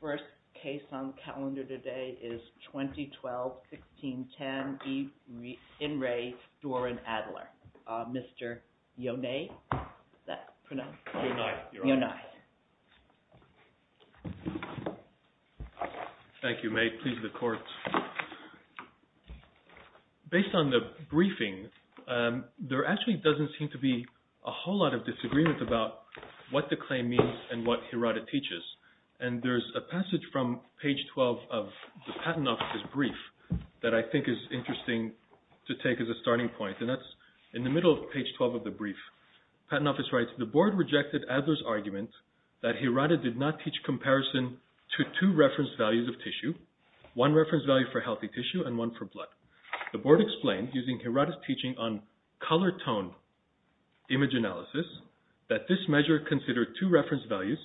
The first case on the calendar today is 2012-16-10, YN RE DORON ADLER. Mr. Yonai, is that pronounced? Yonai. Yonai. Thank you, May. Please, the court. Based on the briefing, there actually doesn't seem to be a whole lot of disagreement about what the claim means and what Hirata teaches. And there's a passage from page 12 of the Patent Office's brief that I think is interesting to take as a starting point. And that's in the middle of page 12 of the brief. The Patent Office writes, The Board rejected Adler's argument that Hirata did not teach comparison to two reference values of tissue, one reference value for healthy tissue and one for blood. The Board explained, using Hirata's teaching on color tone image analysis, that this measure considered two reference values.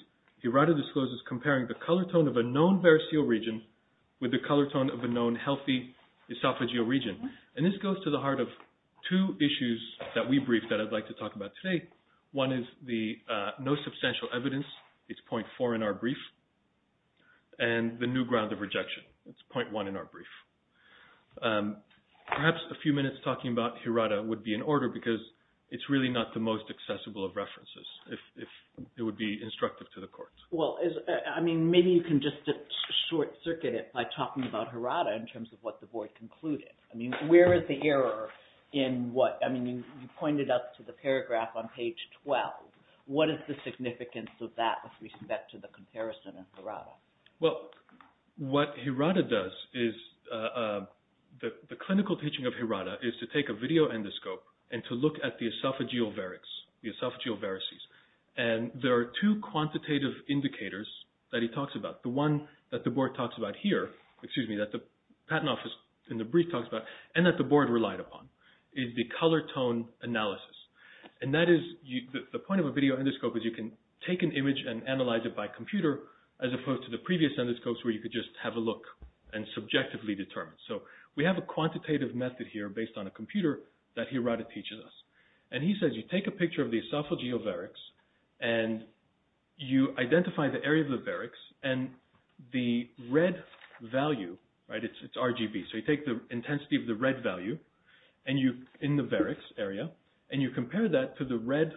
Hirata discloses comparing the color tone of a known variceal region with the color tone of a known healthy esophageal region. And this goes to the heart of two issues that we briefed that I'd like to talk about today. One is the no substantial evidence. It's point four in our brief. And the new ground of rejection. It's point one in our brief. Perhaps a few minutes talking about Hirata would be in order because it's really not the most accessible of references if it would be instructive to the court. Well, I mean, maybe you can just short circuit it by talking about Hirata in terms of what the Board concluded. I mean, where is the error in what – I mean, you pointed up to the paragraph on page 12. What is the significance of that with respect to the comparison of Hirata? Well, what Hirata does is – the clinical teaching of Hirata is to take a video endoscope and to look at the esophageal varics, the esophageal varices. And there are two quantitative indicators that he talks about. The one that the Board talks about here – excuse me – that the patent office in the brief talks about and that the Board relied upon is the color tone analysis. And that is – the point of a video endoscope is you can take an image and analyze it by computer as opposed to the previous endoscopes where you could just have a look and subjectively determine. So we have a quantitative method here based on a computer that Hirata teaches us. And he says you take a picture of the esophageal varics and you identify the area of the varics and the red value – right, it's RGB. So you take the intensity of the red value in the varics area and you compare that to the red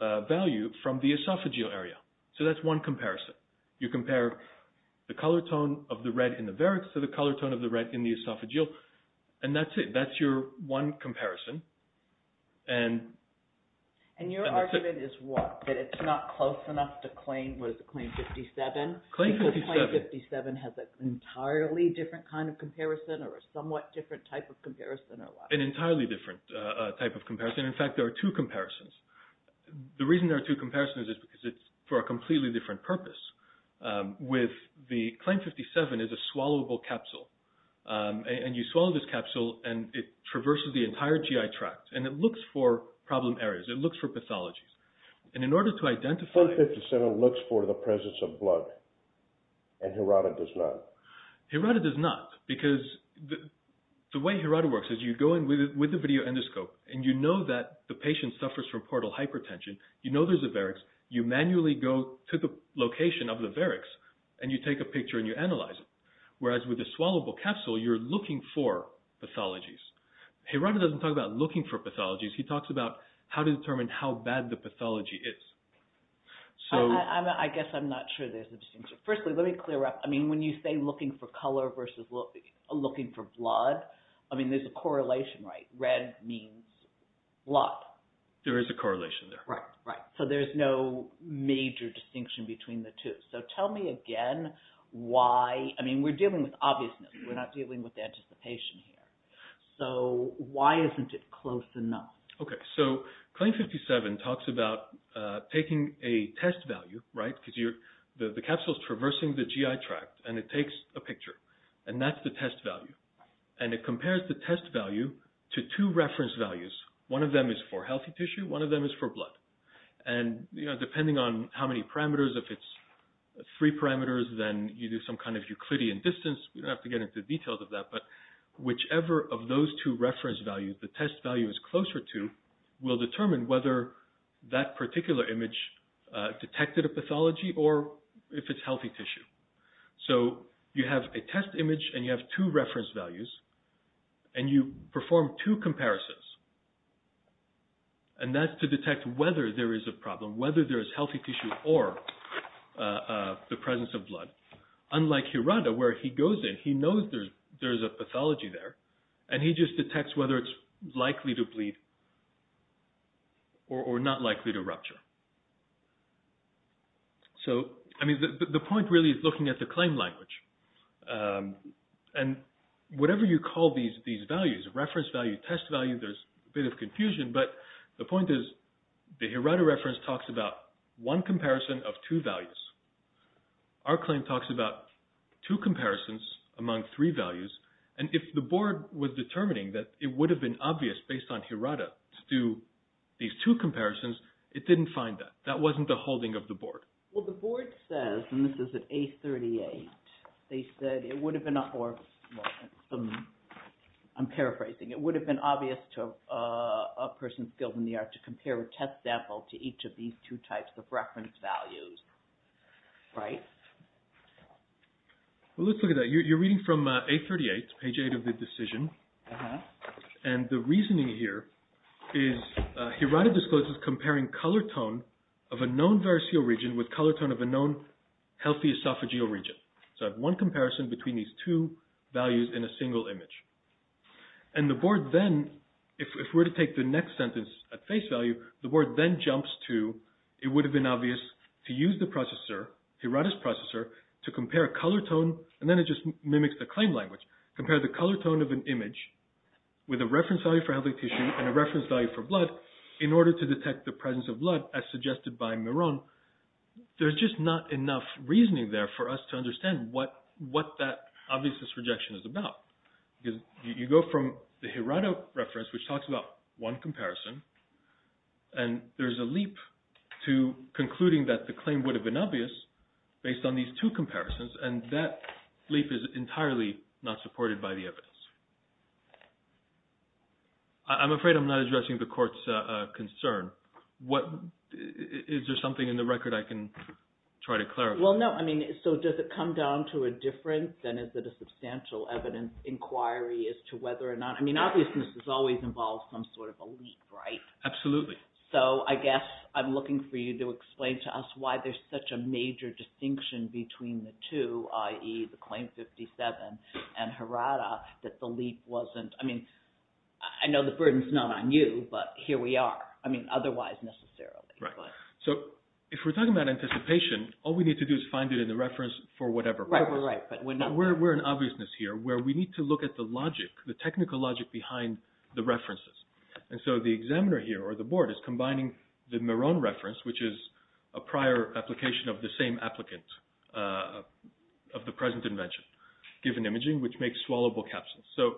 value from the esophageal area. So that's one comparison. You compare the color tone of the red in the varics to the color tone of the red in the esophageal. And that's it. That's your one comparison. And your argument is what? That it's not close enough to claim – what is it – claim 57? Claim 57. Because claim 57 has an entirely different kind of comparison or a somewhat different type of comparison or what? An entirely different type of comparison. In fact, there are two comparisons. The reason there are two comparisons is because it's for a completely different purpose. With the – claim 57 is a swallowable capsule. And you swallow this capsule and it traverses the entire GI tract and it looks for problem areas. It looks for pathologies. And in order to identify – Claim 57 looks for the presence of blood and Hirata does not. Hirata does not because the way Hirata works is you go in with a video endoscope and you know that the patient suffers from portal hypertension. You know there's a varics. You manually go to the location of the varics and you take a picture and you analyze it. Whereas with the swallowable capsule, you're looking for pathologies. Hirata doesn't talk about looking for pathologies. He talks about how to determine how bad the pathology is. So – I guess I'm not sure there's a distinction. Firstly, let me clear up. I mean when you say looking for color versus looking for blood, I mean there's a correlation, right? Red means blood. There is a correlation there. Right, right. So there's no major distinction between the two. So tell me again why – I mean we're dealing with obviousness. We're not dealing with anticipation here. So why isn't it close enough? Okay, so Claim 57 talks about taking a test value, right, because the capsule is traversing the GI tract and it takes a picture. And that's the test value. And it compares the test value to two reference values. One of them is for healthy tissue. One of them is for blood. And, you know, depending on how many parameters, if it's three parameters, then you do some kind of Euclidean distance. We don't have to get into the details of that. But whichever of those two reference values the test value is closer to will determine whether that particular image detected a pathology or if it's healthy tissue. So you have a test image and you have two reference values. And you perform two comparisons. And that's to detect whether there is a problem, whether there is healthy tissue or the presence of blood. Unlike Hirata, where he goes in, he knows there's a pathology there, and he just detects whether it's likely to bleed or not likely to rupture. So, I mean, the point really is looking at the claim language. And whatever you call these values, reference value, test value, there's a bit of confusion. But the point is the Hirata reference talks about one comparison of two values. Our claim talks about two comparisons among three values. And if the board was determining that it would have been obvious based on Hirata to do these two comparisons, it didn't find that. That wasn't the holding of the board. Well, the board says, and this is at A38, they said it would have been, or I'm paraphrasing. It would have been obvious to a person skilled in the art to compare a test sample to each of these two types of reference values. Right? Well, let's look at that. You're reading from A38, page 8 of the decision. And the reasoning here is Hirata discloses comparing color tone of a known variceal region with color tone of a known healthy esophageal region. So I have one comparison between these two values in a single image. And the board then, if we were to take the next sentence at face value, the board then jumps to it would have been obvious to use the processor, Hirata's processor, to compare color tone, and then it just mimics the claim language. Compare the color tone of an image with a reference value for healthy tissue and a reference value for blood in order to detect the presence of blood, as suggested by Miron. There's just not enough reasoning there for us to understand what that obviousness rejection is about. You go from the Hirata reference, which talks about one comparison, and there's a leap to concluding that the claim would have been obvious based on these two comparisons. And that leap is entirely not supported by the evidence. I'm afraid I'm not addressing the court's concern. Is there something in the record I can try to clarify? Well, no. I mean, so does it come down to a difference? Then is it a substantial evidence inquiry as to whether or not – I mean, obviousness has always involved some sort of a leap, right? Absolutely. So I guess I'm looking for you to explain to us why there's such a major distinction between the two, i.e., the Claim 57 and Hirata, that the leap wasn't – I mean, I know the burden's not on you, but here we are. I mean, otherwise, necessarily. Right. So if we're talking about anticipation, all we need to do is find it in the reference for whatever purpose. Right, right. But we're not – We're in obviousness here where we need to look at the logic, the technical logic behind the references. And so the examiner here, or the board, is combining the Meron reference, which is a prior application of the same applicant of the present invention, given imaging, which makes swallowable capsules. So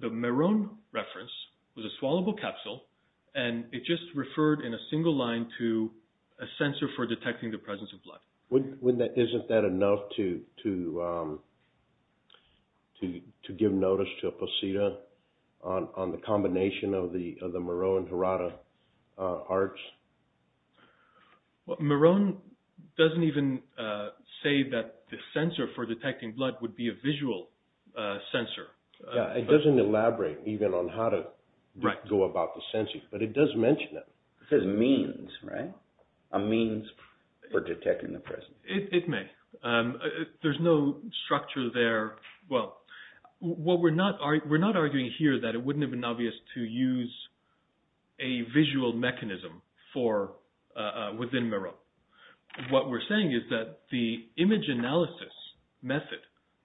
the Meron reference was a swallowable capsule, and it just referred in a single line to a sensor for detecting the presence of blood. Isn't that enough to give notice to a poseda on the combination of the Meron and Hirata arts? Meron doesn't even say that the sensor for detecting blood would be a visual sensor. Yeah, it doesn't elaborate even on how to go about the sensing, but it does mention it. It says means, right, a means for detecting the presence. It may. There's no structure there. Well, what we're not – we're not arguing here that it wouldn't have been obvious to use a visual mechanism for – within Meron. What we're saying is that the image analysis method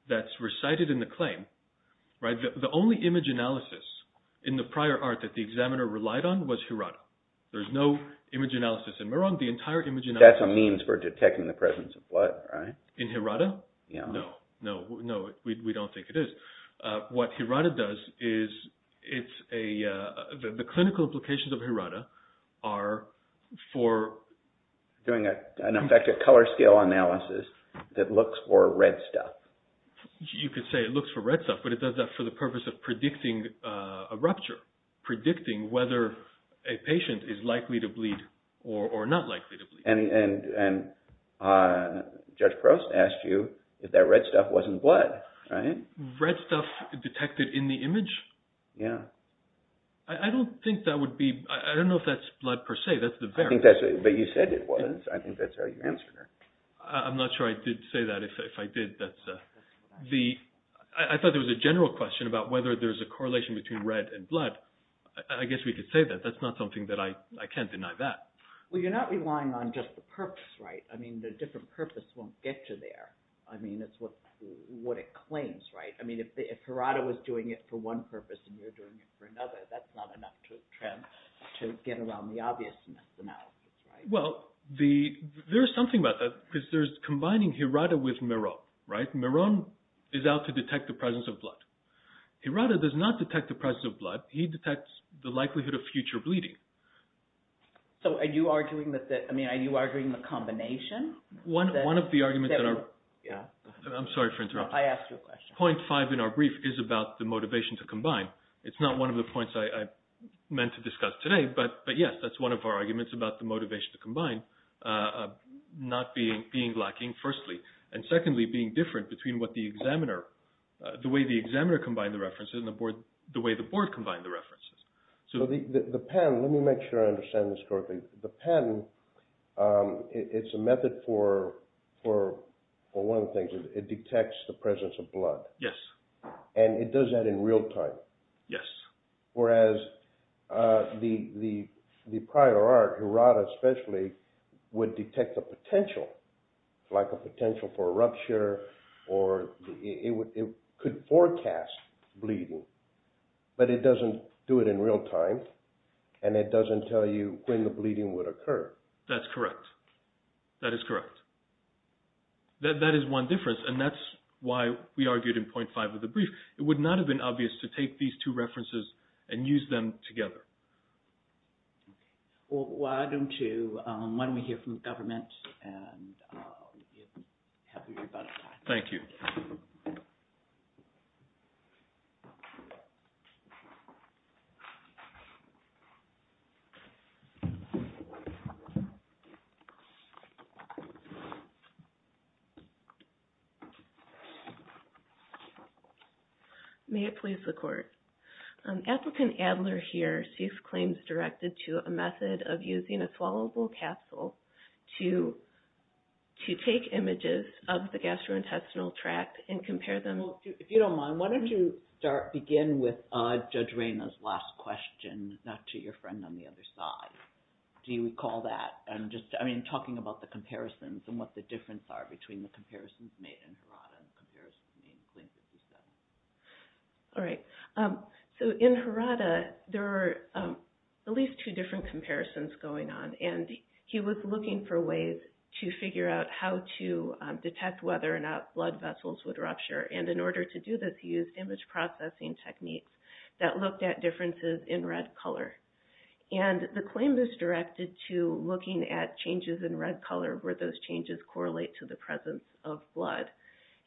that's recited in the claim, right, the only image analysis in the prior art that the examiner relied on was Hirata. There's no image analysis in Meron. The entire image analysis – That's a means for detecting the presence of blood, right? In Hirata? Yeah. No, no. No, we don't think it is. What Hirata does is it's a – the clinical implications of Hirata are for – Doing an effective color scale analysis that looks for red stuff. You could say it looks for red stuff, but it does that for the purpose of predicting a rupture, predicting whether a patient is likely to bleed or not likely to bleed. And Judge Gross asked you if that red stuff wasn't blood, right? Red stuff detected in the image? Yeah. I don't think that would be – I don't know if that's blood per se. That's the very – I think that's – but you said it was. I think that's how you answered her. I'm not sure I did say that. If I did, that's – I thought there was a general question about whether there's a correlation between red and blood. I guess we could say that. That's not something that I – I can't deny that. Well, you're not relying on just the purpose, right? I mean, the different purpose won't get you there. I mean, it's what it claims, right? I mean, if Hirata was doing it for one purpose and you're doing it for another, that's not enough to get around the obviousness analysis, right? Well, there's something about that because there's combining Hirata with Meron, right? Meron is out to detect the presence of blood. Hirata does not detect the presence of blood. He detects the likelihood of future bleeding. So are you arguing that – I mean, are you arguing the combination? One of the arguments that are – I'm sorry for interrupting. I asked you a question. Point five in our brief is about the motivation to combine. It's not one of the points I meant to discuss today, but, yes, that's one of our arguments about the motivation to combine not being lacking, firstly, and, secondly, being different between what the examiner – the way the examiner combined the references and the way the board combined the references. So the pattern – let me make sure I understand this correctly. The pattern, it's a method for one of the things. It detects the presence of blood. Yes. And it does that in real time. Yes. Whereas the prior art, Hirata especially, would detect a potential, like a potential for a rupture, or it could forecast bleeding, but it doesn't do it in real time, and it doesn't tell you when the bleeding would occur. That's correct. That is correct. That is one difference, and that's why we argued in point five of the brief. It would not have been obvious to take these two references and use them together. Well, why don't you – why don't we hear from the government and have a good time. Thank you. May it please the Court. Applicant Adler here sees claims directed to a method of using a swallowable capsule to take images of the gastrointestinal tract and compare them. Well, if you don't mind, why don't you start – begin with Judge Rayna's last question, not to your friend on the other side. Do you recall that? I'm just – I mean, talking about the comparisons and what the differences are between the comparisons made in Hirata and the comparisons made in Clinton's system. All right. So in Hirata, there were at least two different comparisons going on, and he was looking for ways to figure out how to detect whether or not blood vessels would rupture. And in order to do this, he used image processing techniques that looked at differences in red color. And the claim is directed to looking at changes in red color where those changes correlate to the presence of blood.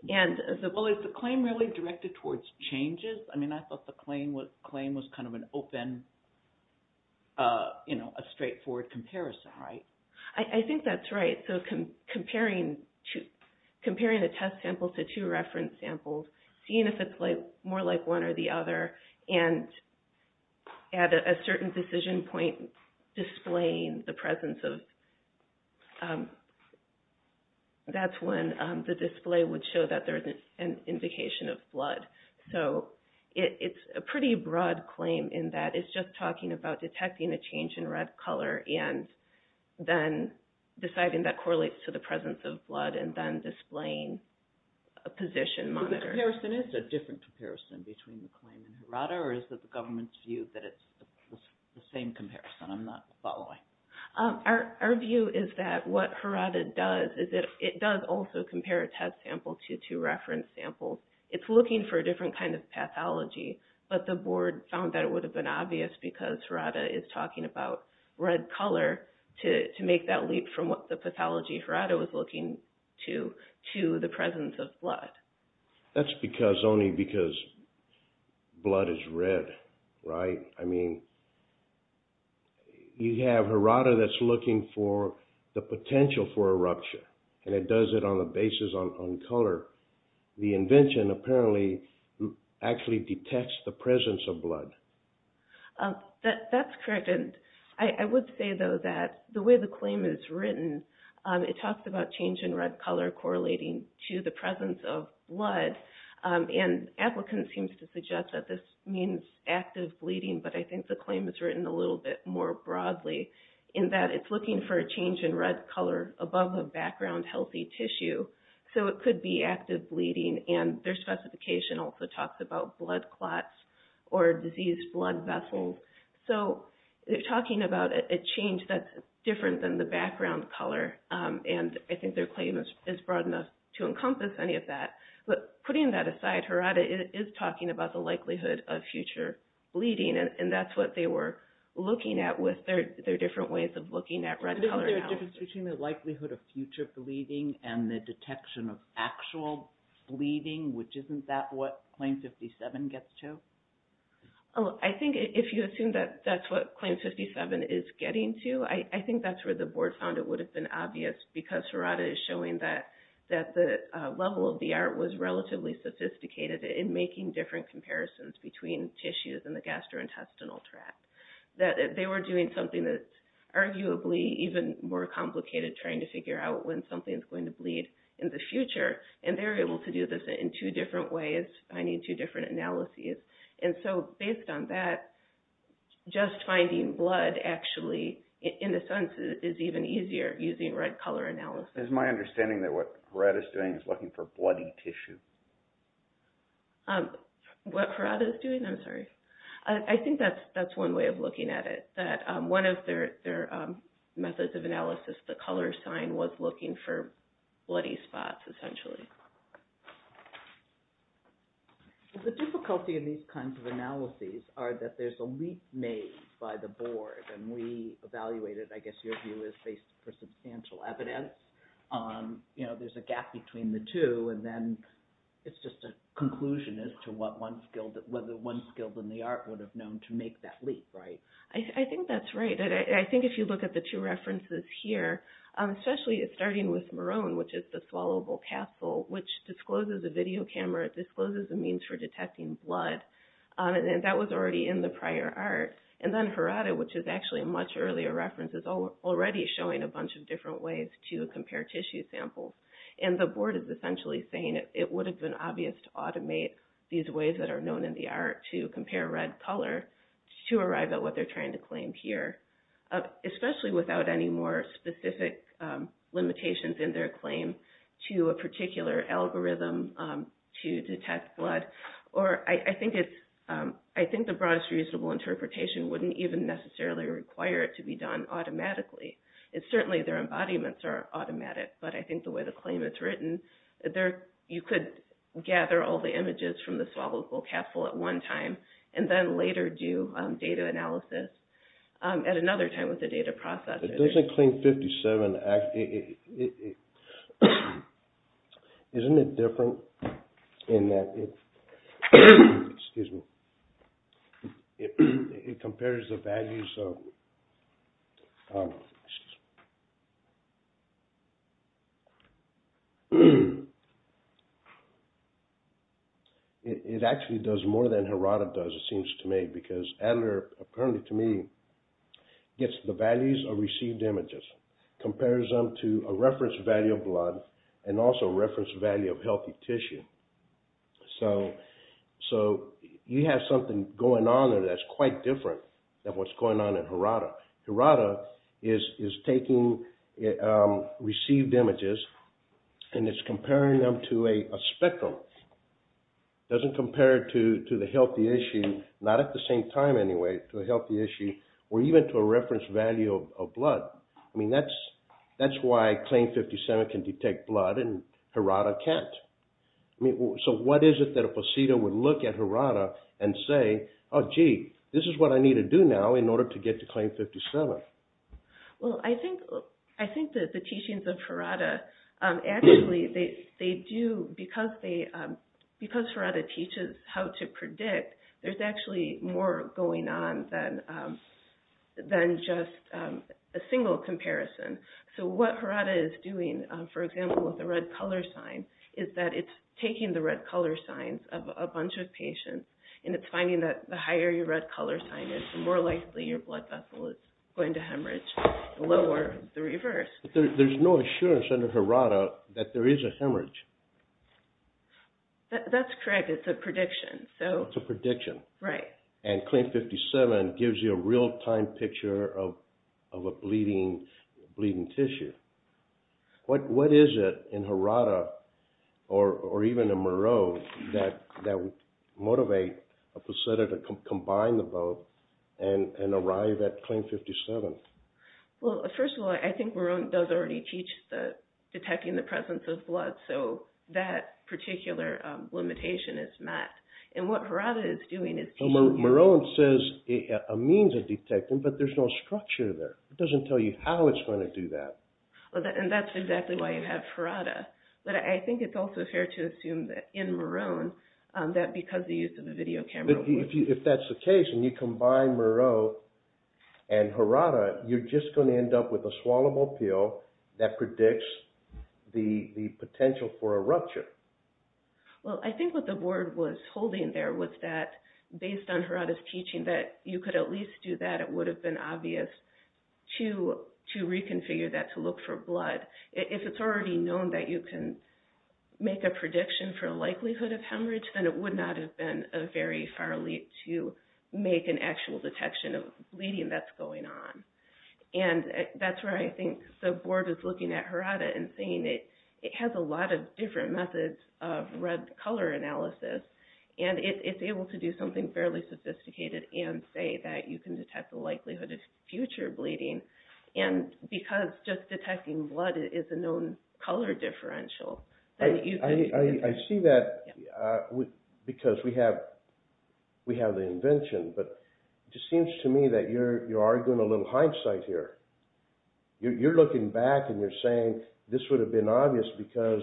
Well, is the claim really directed towards changes? I mean, I thought the claim was kind of an open – you know, a straightforward comparison, right? I think that's right. So comparing a test sample to two reference samples, seeing if it's more like one or the other, and at a certain decision point displaying the presence of – that's when the display would show that there's an indication of blood. So it's a pretty broad claim in that it's just talking about detecting a change in red color and then deciding that correlates to the presence of blood and then displaying a position monitor. So the comparison is a different comparison between the claim in Hirata, or is it the government's view that it's the same comparison? I'm not following. Our view is that what Hirata does is it does also compare a test sample to two reference samples. It's looking for a different kind of pathology, but the board found that it would have been obvious because Hirata is talking about red color to make that leap from what the pathology Hirata was looking to to the presence of blood. That's because – only because blood is red, right? I mean, you have Hirata that's looking for the potential for a rupture, and it does it on the basis of color. The invention apparently actually detects the presence of blood. That's correct. I would say, though, that the way the claim is written, it talks about change in red color correlating to the presence of blood. Applicants seem to suggest that this means active bleeding, but I think the claim is written a little bit more broadly in that it's looking for a change in red color above a background healthy tissue. So it could be active bleeding, and their specification also talks about blood clots or diseased blood vessels. So they're talking about a change that's different than the background color, and I think their claim is broad enough to encompass any of that. But putting that aside, Hirata is talking about the likelihood of future bleeding, and that's what they were looking at with their different ways of looking at red color. Is there a difference between the likelihood of future bleeding and the detection of actual bleeding, which isn't that what Claim 57 gets to? Oh, I think if you assume that that's what Claim 57 is getting to, I think that's where the board found it would have been obvious, because Hirata is showing that the level of VR was relatively sophisticated in making different comparisons between tissues in the gastrointestinal tract. That they were doing something that's arguably even more complicated, trying to figure out when something's going to bleed in the future, and they're able to do this in two different ways, finding two different analyses. And so based on that, just finding blood actually, in a sense, is even easier using red color analysis. It's my understanding that what Hirata's doing is looking for bloody tissue. What Hirata's doing? I'm sorry. I think that's one way of looking at it, that one of their methods of analysis, the color sign, was looking for bloody spots, essentially. The difficulty in these kinds of analyses are that there's a leap made by the board, and we evaluated, I guess your view is based for substantial evidence. There's a gap between the two, and then it's just a conclusion as to whether one skilled in the art would have known to make that leap, right? I think that's right. I think if you look at the two references here, especially starting with Marone, which is the swallowable castle, which discloses a video camera, discloses a means for detecting blood, and that was already in the prior art. And then Hirata, which is actually a much earlier reference, is already showing a bunch of different ways to compare tissue samples. And the board is essentially saying it would have been obvious to automate these ways that are known in the art to compare red color to arrive at what they're trying to claim here, especially without any more specific limitations in their claim to a particular algorithm to detect blood. I think the broadest reasonable interpretation wouldn't even necessarily require it to be done automatically. Certainly their embodiments are automatic, but I think the way the claim is written, you could gather all the images from the swallowable castle at one time, and then later do data analysis at another time with the data processes. It doesn't claim 57. Isn't it different in that it compares the values of – It actually does more than Hirata does, it seems to me, because Adler, apparently to me, gets the values of received images, compares them to a reference value of blood and also a reference value of healthy tissue. So you have something going on there that's quite different than what's going on in Hirata. Hirata is taking received images and it's comparing them to a spectrum. It doesn't compare it to the healthy tissue, not at the same time anyway, to a healthy tissue, or even to a reference value of blood. I mean that's why claim 57 can detect blood and Hirata can't. So what is it that a placenta would look at Hirata and say, oh gee, this is what I need to do now in order to get to claim 57? Well, I think the teachings of Hirata actually, because Hirata teaches how to predict, there's actually more going on than just a single comparison. So what Hirata is doing, for example, with the red color sign, is that it's taking the red color signs of a bunch of patients and it's finding that the higher your red color sign is, the more likely your blood vessel is going to hemorrhage, the lower the reverse. There's no assurance under Hirata that there is a hemorrhage. That's correct, it's a prediction. It's a prediction. Right. And claim 57 gives you a real-time picture of a bleeding tissue. What is it in Hirata, or even in Moreau, that would motivate a placenta to combine the both and arrive at claim 57? Well, first of all, I think Moreau does already teach detecting the presence of blood, so that particular limitation is met. And what Hirata is doing is... Moreau says a means of detecting, but there's no structure there. It doesn't tell you how it's going to do that. And that's exactly why you have Hirata. But I think it's also fair to assume that in Moreau, that because the use of the video camera... If that's the case, and you combine Moreau and Hirata, you're just going to end up with a swallowable pill that predicts the potential for a rupture. Well, I think what the board was holding there was that, based on Hirata's teaching, that you could at least do that. It would have been obvious to reconfigure that to look for blood. If it's already known that you can make a prediction for a likelihood of hemorrhage, then it would not have been a very far leap to make an actual detection of bleeding that's going on. And that's where I think the board is looking at Hirata and saying it has a lot of different methods of red color analysis. And it's able to do something fairly sophisticated and say that you can detect the likelihood of future bleeding. And because just detecting blood is a known color differential, then you can... I see that because we have the invention, but it just seems to me that you're arguing a little hindsight here. You're looking back and you're saying this would have been obvious because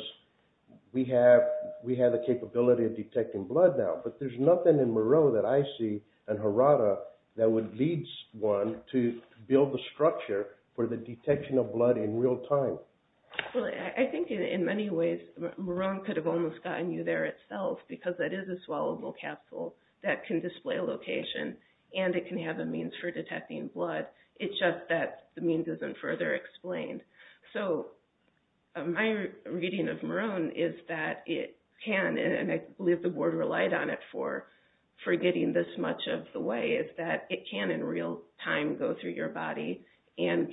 we have the capability of detecting blood now. But there's nothing in Moreau that I see in Hirata that would lead one to build the structure for the detection of blood in real time. I think in many ways, Moreau could have almost gotten you there itself because that is a swallowable capsule that can display location and it can have a means for detecting blood. It's just that the means isn't further explained. So my reading of Moreau is that it can, and I believe the board relied on it for getting this much of the way, is that it can in real time go through your body and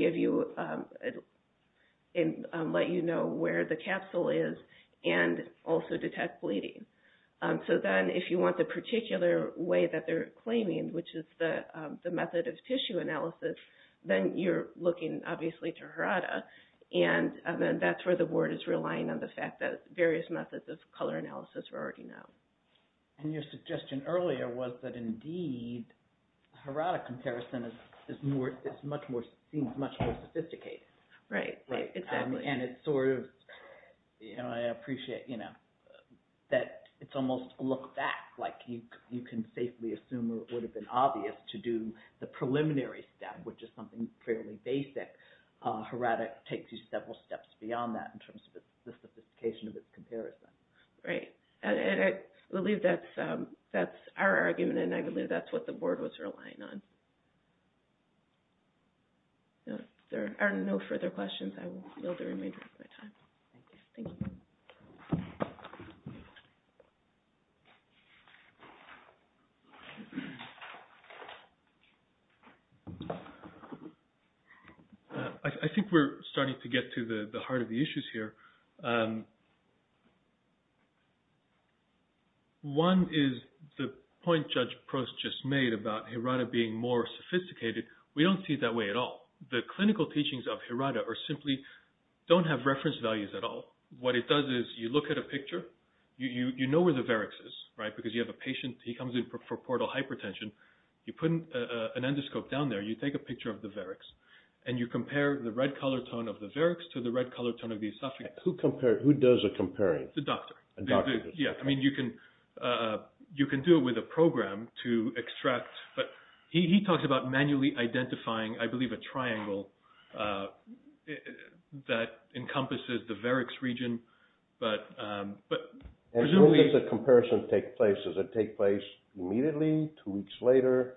let you know where the capsule is and also detect bleeding. So then if you want the particular way that they're claiming, which is the method of tissue analysis, then you're looking, obviously, to Hirata. And that's where the board is relying on the fact that various methods of color analysis are already known. And your suggestion earlier was that, indeed, Hirata comparison seems much more sophisticated. Right, exactly. And it's sort of, you know, I appreciate that it's almost a look back. Like you can safely assume it would have been obvious to do the preliminary step, which is something fairly basic. Hirata takes you several steps beyond that in terms of the sophistication of its comparison. Right. And I believe that's our argument and I believe that's what the board was relying on. There are no further questions. I will yield the remainder of my time. Thank you. I think we're starting to get to the heart of the issues here. One is the point Judge Prost just made about Hirata being more sophisticated. We don't see it that way at all. The clinical teachings of Hirata are simply don't have reference values at all. What it does is you look at a picture. You know where the varix is, right, because you have a patient. He comes in for portal hypertension. You put an endoscope down there. You take a picture of the varix and you compare the red color tone of the varix to the red color tone of the esophagus. Who does the comparing? The doctor. Yeah, I mean you can do it with a program to extract. But he talks about manually identifying, I believe, a triangle that encompasses the varix region. And where does the comparison take place? Does it take place immediately, two weeks later?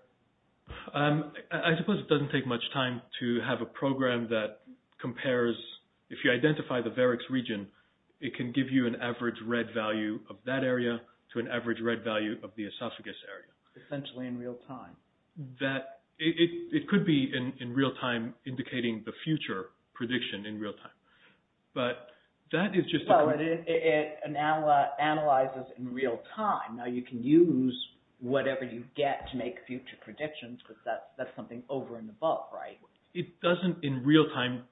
I suppose it doesn't take much time to have a program that compares. If you identify the varix region, it can give you an average red value of that area to an average red value of the esophagus area. Essentially in real time. It could be in real time indicating the future prediction in real time. But that is just a… No, it analyzes in real time. Now you can use whatever you get to make future predictions because that's something over and above, right? It doesn't in real time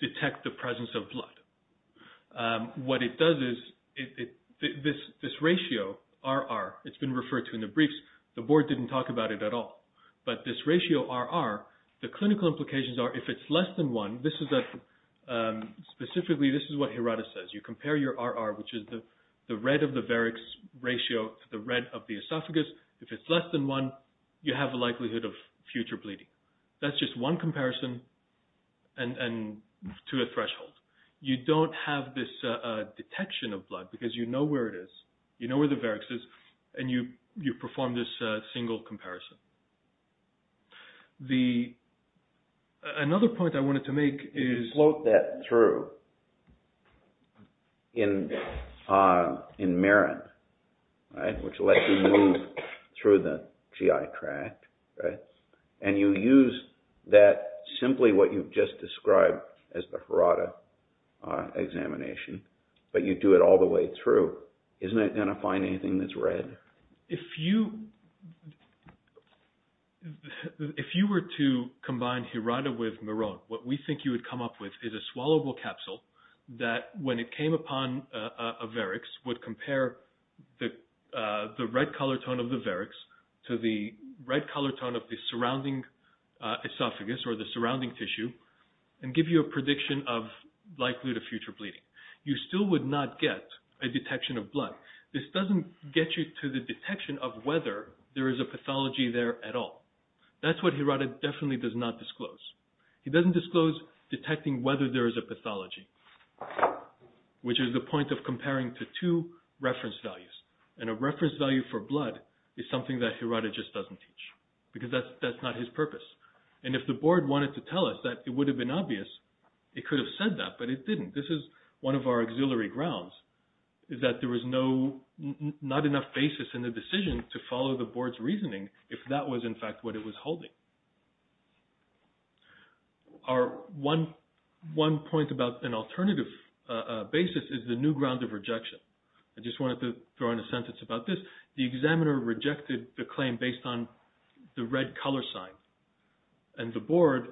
detect the presence of blood. What it does is this ratio, RR, it's been referred to in the briefs. The board didn't talk about it at all. But this ratio, RR, the clinical implications are if it's less than one, this is a… Specifically, this is what Hirata says. You compare your RR, which is the red of the varix ratio to the red of the esophagus. If it's less than one, you have a likelihood of future bleeding. That's just one comparison to a threshold. You don't have this detection of blood because you know where it is. You know where the varix is. And you perform this single comparison. Another point I wanted to make is… In Marin, right, which lets you move through the GI tract, right, and you use that simply what you've just described as the Hirata examination, but you do it all the way through. Isn't it going to find anything that's red? If you were to combine Hirata with Marone, what we think you would come up with is a swallowable capsule that, when it came upon a varix, would compare the red color tone of the varix to the red color tone of the surrounding esophagus or the surrounding tissue and give you a prediction of likelihood of future bleeding. You still would not get a detection of blood. This doesn't get you to the detection of whether there is a pathology there at all. That's what Hirata definitely does not disclose. He doesn't disclose detecting whether there is a pathology, which is the point of comparing to two reference values. And a reference value for blood is something that Hirata just doesn't teach because that's not his purpose. And if the board wanted to tell us that it would have been obvious, it could have said that, but it didn't. This is one of our auxiliary grounds, is that there was not enough basis in the decision to follow the board's holding. One point about an alternative basis is the new ground of rejection. I just wanted to throw in a sentence about this. The examiner rejected the claim based on the red color sign, and the board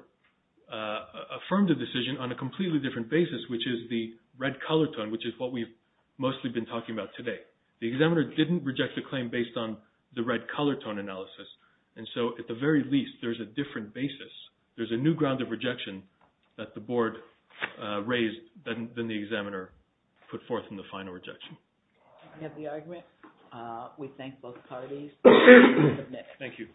affirmed the decision on a completely different basis, which is the red color tone, which is what we've mostly been talking about today. The examiner didn't reject the claim based on the red color tone analysis, and so at the very least there's a different basis. There's a new ground of rejection that the board raised, then the examiner put forth in the final rejection. We have the argument. We thank both parties. Thank you.